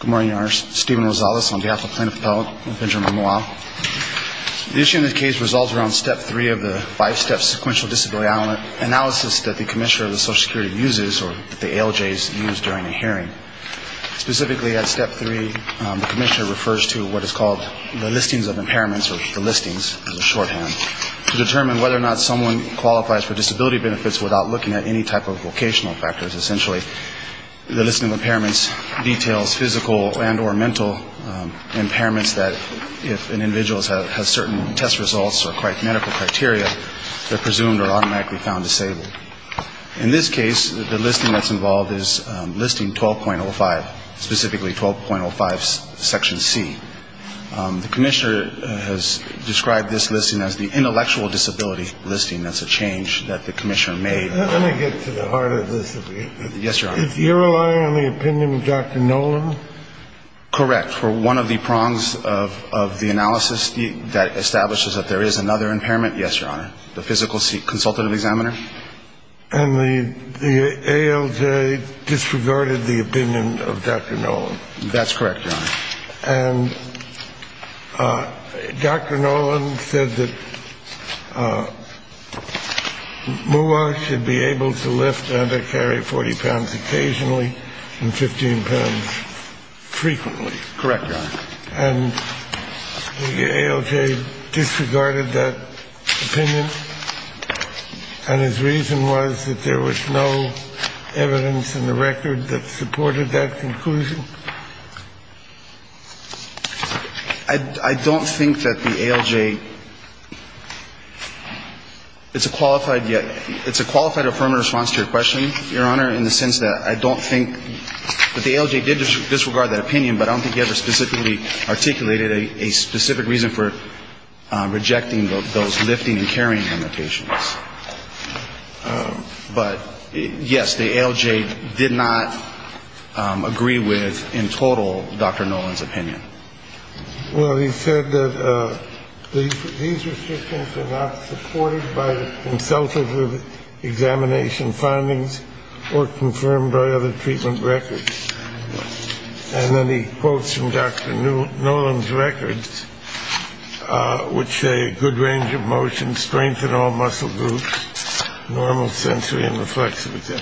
Good morning, your honors. Stephen Rosales on behalf of Plaintiff Appellate and Benjamin Moua. The issue in this case resolves around step three of the five-step sequential disability analysis that the Commissioner of the Social Security uses, or that the ALJs use during a hearing. Specifically at step three, the Commissioner refers to what is called the listings of impairments, or the listings as a shorthand, to determine whether or not someone qualifies for those physical and or mental impairments that, if an individual has certain test results or medical criteria, they're presumed or automatically found disabled. In this case, the listing that's involved is Listing 12.05, specifically 12.05 Section C. The Commissioner has described this listing as the intellectual disability listing. That's a change that the Commissioner made. Let me get to the heart of this a bit. Yes, your honor. You're relying on the opinion of Dr. Nolan? Correct. For one of the prongs of the analysis that establishes that there is another impairment, yes, your honor, the physical consultative examiner. And the ALJ disregarded the opinion of Dr. Nolan? That's correct, your honor. And Dr. Nolan said that MUA should be able to lift and to carry 40 pounds occasionally and 15 pounds frequently. And the ALJ disregarded that opinion, and his reason was that there was no evidence in the record that supported that conclusion? I don't think that the ALJ is a qualified yet – it's a qualified affirmative response to your question, your honor, in the sense that I don't think that the ALJ did disregard that opinion, but I don't think he ever specifically articulated a specific reason for rejecting those lifting and carrying limitations. But, yes, the ALJ did not agree with, in total, Dr. Nolan's opinion. Well, he said that these restrictions are not supported by consultative examination findings or confirmed by other treatment records. And then he quotes from Dr. Nolan's records, which say a good range of motion, strength in all muscle groups, normal sensory and reflexivity,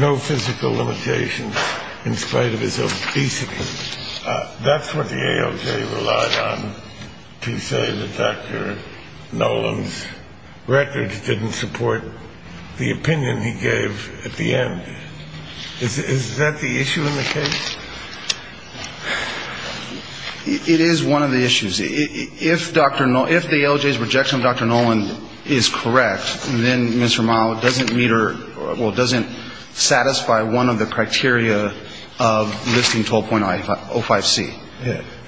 no physical limitations in spite of his obesity. That's what the ALJ relied on to say that Dr. Nolan's records didn't support the opinion he gave at the end. Is that the issue in the case? It is one of the issues. If Dr. – if the ALJ's rejection of Dr. Nolan is correct, then Mr. Mao doesn't meet or – well, doesn't satisfy one of the criteria of listing 12.05C.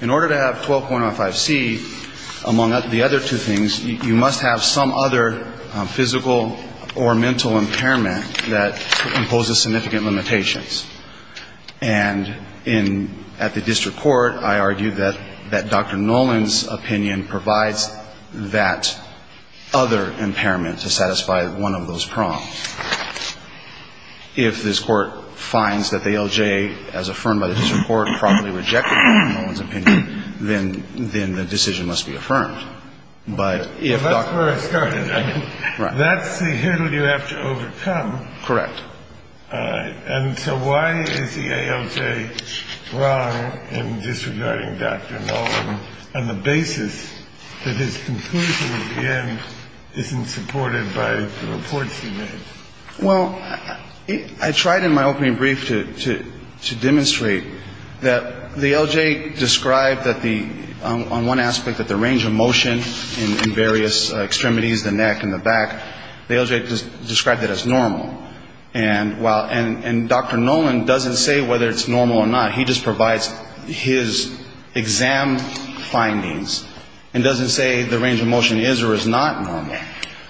In order to have 12.05C, among the other two things, you must have some other physical or mental impairment that imposes significant limitations. And in – at the district court, I argue that Dr. Nolan's opinion provides that other impairment to satisfy one of those prongs. If this court finds that the ALJ, as affirmed by the district court, properly rejected Dr. Nolan's opinion, then the decision must be affirmed. But if Dr. – That's where I started. Right. That's the hurdle you have to overcome. Correct. And so why is the ALJ wrong in disregarding Dr. Nolan on the basis that his conclusion at the end isn't supported by the reports he made? Well, I tried in my opening brief to demonstrate that the ALJ described that the – on one aspect, that the range of motion in various extremities, the neck and the back, the ALJ described it as normal. And while – and Dr. Nolan doesn't say whether it's normal or not. He just provides his exam findings and doesn't say the range of motion is or is not normal.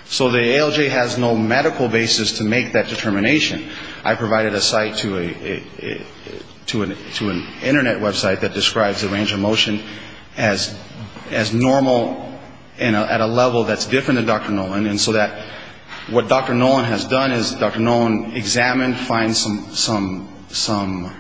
So the ALJ has no medical basis to make that determination. I provided a site to a – to an Internet website that describes the range of motion as normal and at a level that's different than Dr. Nolan. And so that what Dr. Nolan has done is Dr. Nolan examined, finds some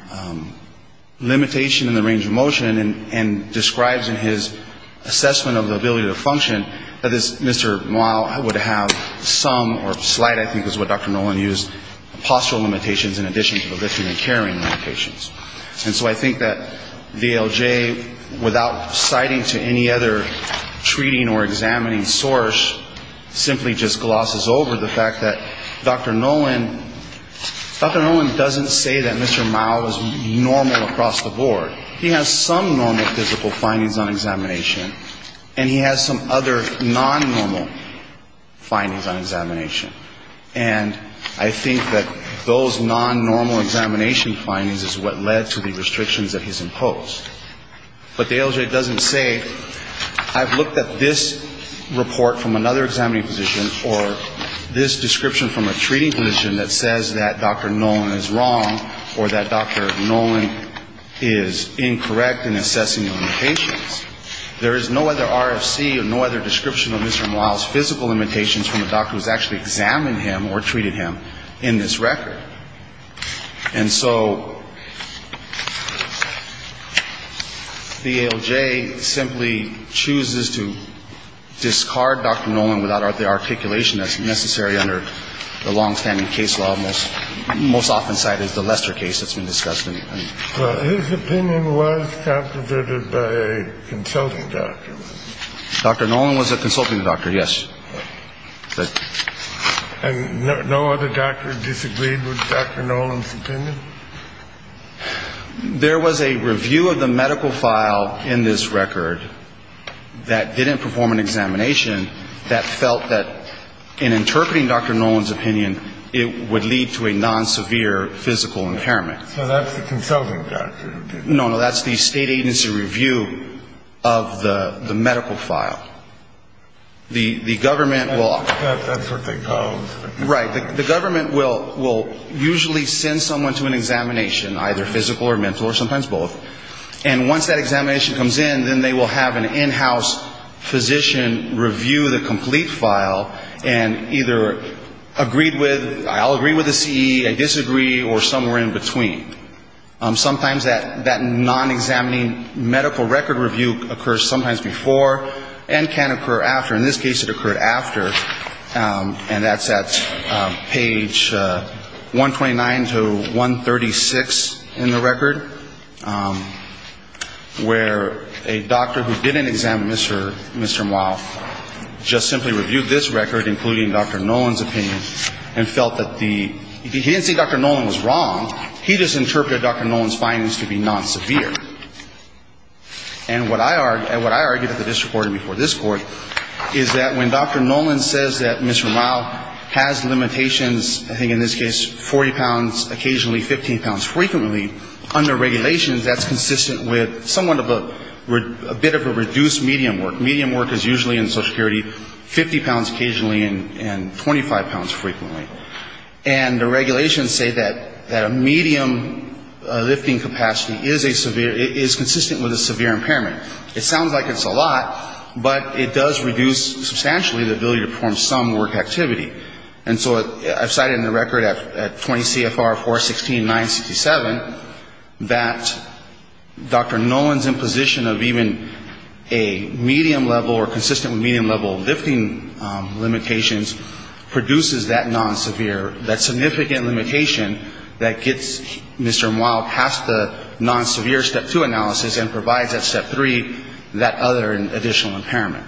limitation in the range of motion and describes in his assessment of the ability to function that Mr. Mao would have some or slight, I think is what Dr. Nolan used, postural limitations in addition to the lifting and carrying limitations. And so I think that the ALJ, without citing to any other treating or examining source, simply just glosses over the fact that Dr. Nolan – Dr. Nolan doesn't say that Mr. Mao is normal across the board. He has some normal physical findings on examination. And he has some other non-normal findings on examination. And I think that those non-normal examination findings is what led to the restrictions that he's imposed. But the ALJ doesn't say I've looked at this report from another examining physician or this description from a treating physician that says that Dr. Nolan is wrong or that Dr. Nolan is incorrect in assessing the limitations. There is no other RFC or no other description of Mr. Mao's physical limitations from a doctor who's actually examined him or treated him in this record. And so the ALJ simply chooses to discard Dr. Nolan without the articulation that's necessary under the long-standing case law, most often cited as the Lester case that's been discussed. His opinion was captivated by a consulting doctor. Dr. Nolan was a consulting doctor, yes. And no other doctor disagreed with Dr. Nolan's opinion? There was a review of the medical file in this record that didn't perform an examination that felt that in interpreting Dr. Nolan's opinion, it would lead to a non-severe physical impairment. So that's the consulting doctor. No, no, that's the state agency review of the medical file. The government will – That's what they call – Right. The government will usually send someone to an examination, either physical or mental or sometimes both. And once that examination comes in, then they will have an in-house physician review the complete file and either agreed with, I'll agree with the CE, I disagree, or somewhere in between. Sometimes that non-examining medical record review occurs sometimes before and can occur after. In this case, it occurred after, and that's at page 129 to 136 in the record, where a doctor who didn't examine Mr. Mouw just simply reviewed this record, including Dr. Nolan's opinion, and felt that the – he didn't say Dr. Nolan was wrong. He just interpreted Dr. Nolan's findings to be non-severe. And what I argue at the district court and before this court is that when Dr. Nolan says that Mr. Mouw has limitations, I think in this case 40 pounds occasionally, 15 pounds frequently, under regulations, that's consistent with somewhat of a bit of a reduced medium work. Medium work is usually in Social Security 50 pounds occasionally and 25 pounds frequently. And the regulations say that a medium lifting capacity is a severe – is consistent with a severe impairment. It sounds like it's a lot, but it does reduce substantially the ability to perform some work activity. And so I've cited in the record at 20 CFR 416-967 that Dr. Nolan's imposition of even a medium level or consistent with medium level lifting limitations produces that non-severe, that significant limitation that gets Mr. Mouw past the non-severe Step 2 analysis and provides at Step 3 that other additional impairment.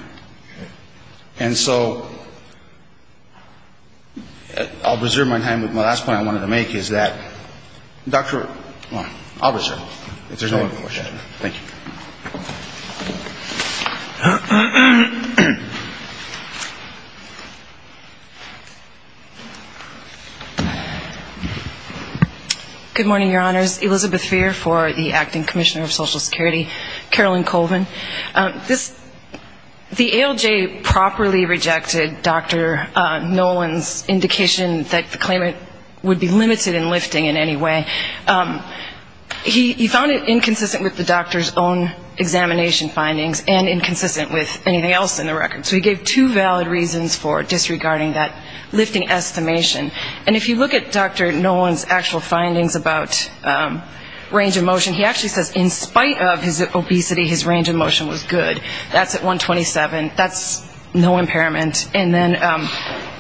And so I'll reserve my time with my last point I wanted to make is that Dr. – well, I'll reserve it. Thank you. Good morning, Your Honors. Elizabeth Feer for the Acting Commissioner of Social Security. Carolyn Colvin. The ALJ properly rejected Dr. Nolan's indication that the claimant would be limited in lifting in any way. He found it inconsistent with the doctor's own examination findings and inconsistent with anything else in the record. So he gave two valid reasons for disregarding that lifting estimation. And if you look at Dr. Nolan's actual findings about range of motion, he actually says in spite of his obesity, his range of motion was good. That's at 127. That's no impairment. And then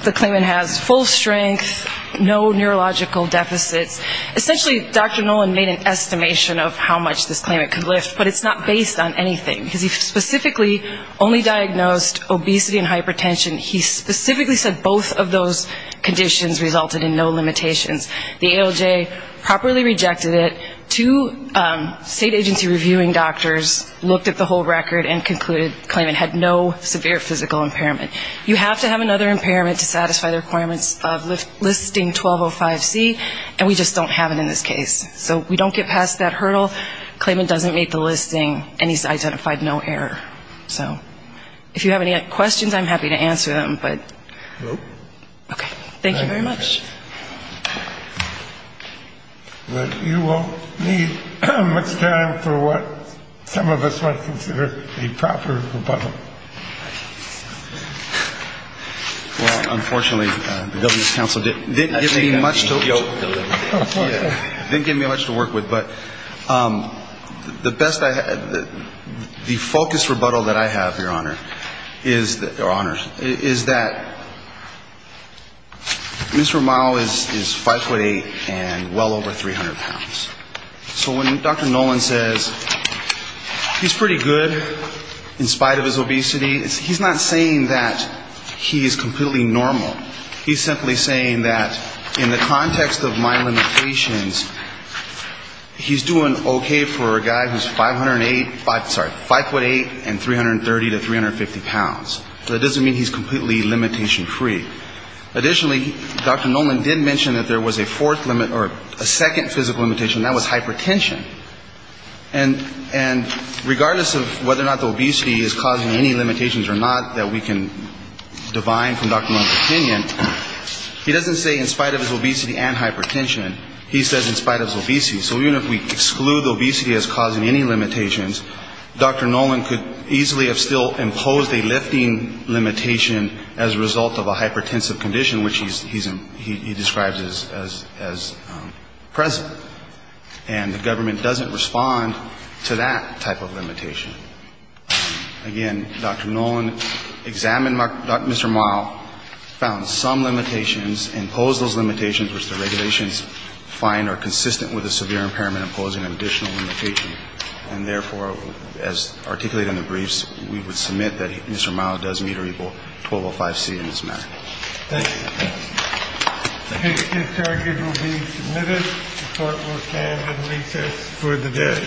the claimant has full strength, no neurological deficits. Essentially, Dr. Nolan made an estimation of how much this claimant could lift, but it's not based on anything. Because he specifically only diagnosed obesity and hypertension. He specifically said both of those conditions resulted in no limitations. The ALJ properly rejected it. Two state agency reviewing doctors looked at the whole record and concluded the claimant had no severe physical impairment. You have to have another impairment to satisfy the requirements of listing 1205C, and we just don't have it in this case. So we don't get past that hurdle. The claimant doesn't meet the listing, and he's identified no error. So if you have any questions, I'm happy to answer them. Okay. Thank you very much. But you won't need much time for what some of us might consider a proper rebuttal. Well, unfortunately, the government's counsel didn't give me much to work with. But the best I had, the focused rebuttal that I have, Your Honor, is that, Mr. Romao is 5'8 and well over 300 pounds. So when Dr. Nolan says he's pretty good in spite of his obesity, he's not saying that he is completely normal. He's simply saying that in the context of my limitations, he's doing okay for a guy who's 5'8 and 330 to 350 pounds. That doesn't mean he's completely limitation-free. Additionally, Dr. Nolan did mention that there was a fourth limit or a second physical limitation, and that was hypertension. And regardless of whether or not the obesity is causing any limitations or not that we can divine from Dr. Nolan's opinion, he doesn't say in spite of his obesity and hypertension. He says in spite of his obesity. So even if we exclude obesity as causing any limitations, Dr. Nolan could easily have still imposed a lifting limitation as a result of a hypertensive condition, which he describes as present. And the government doesn't respond to that type of limitation. Again, Dr. Nolan examined Mr. Romao, found some limitations, imposed those limitations, which the regulations find are consistent with a severe impairment and imposing an additional limitation. And therefore, as articulated in the briefs, we would submit that Mr. Romao does meet or equal 1205C in this matter. Thank you. His charges will be submitted. The Court will stand at recess for the day.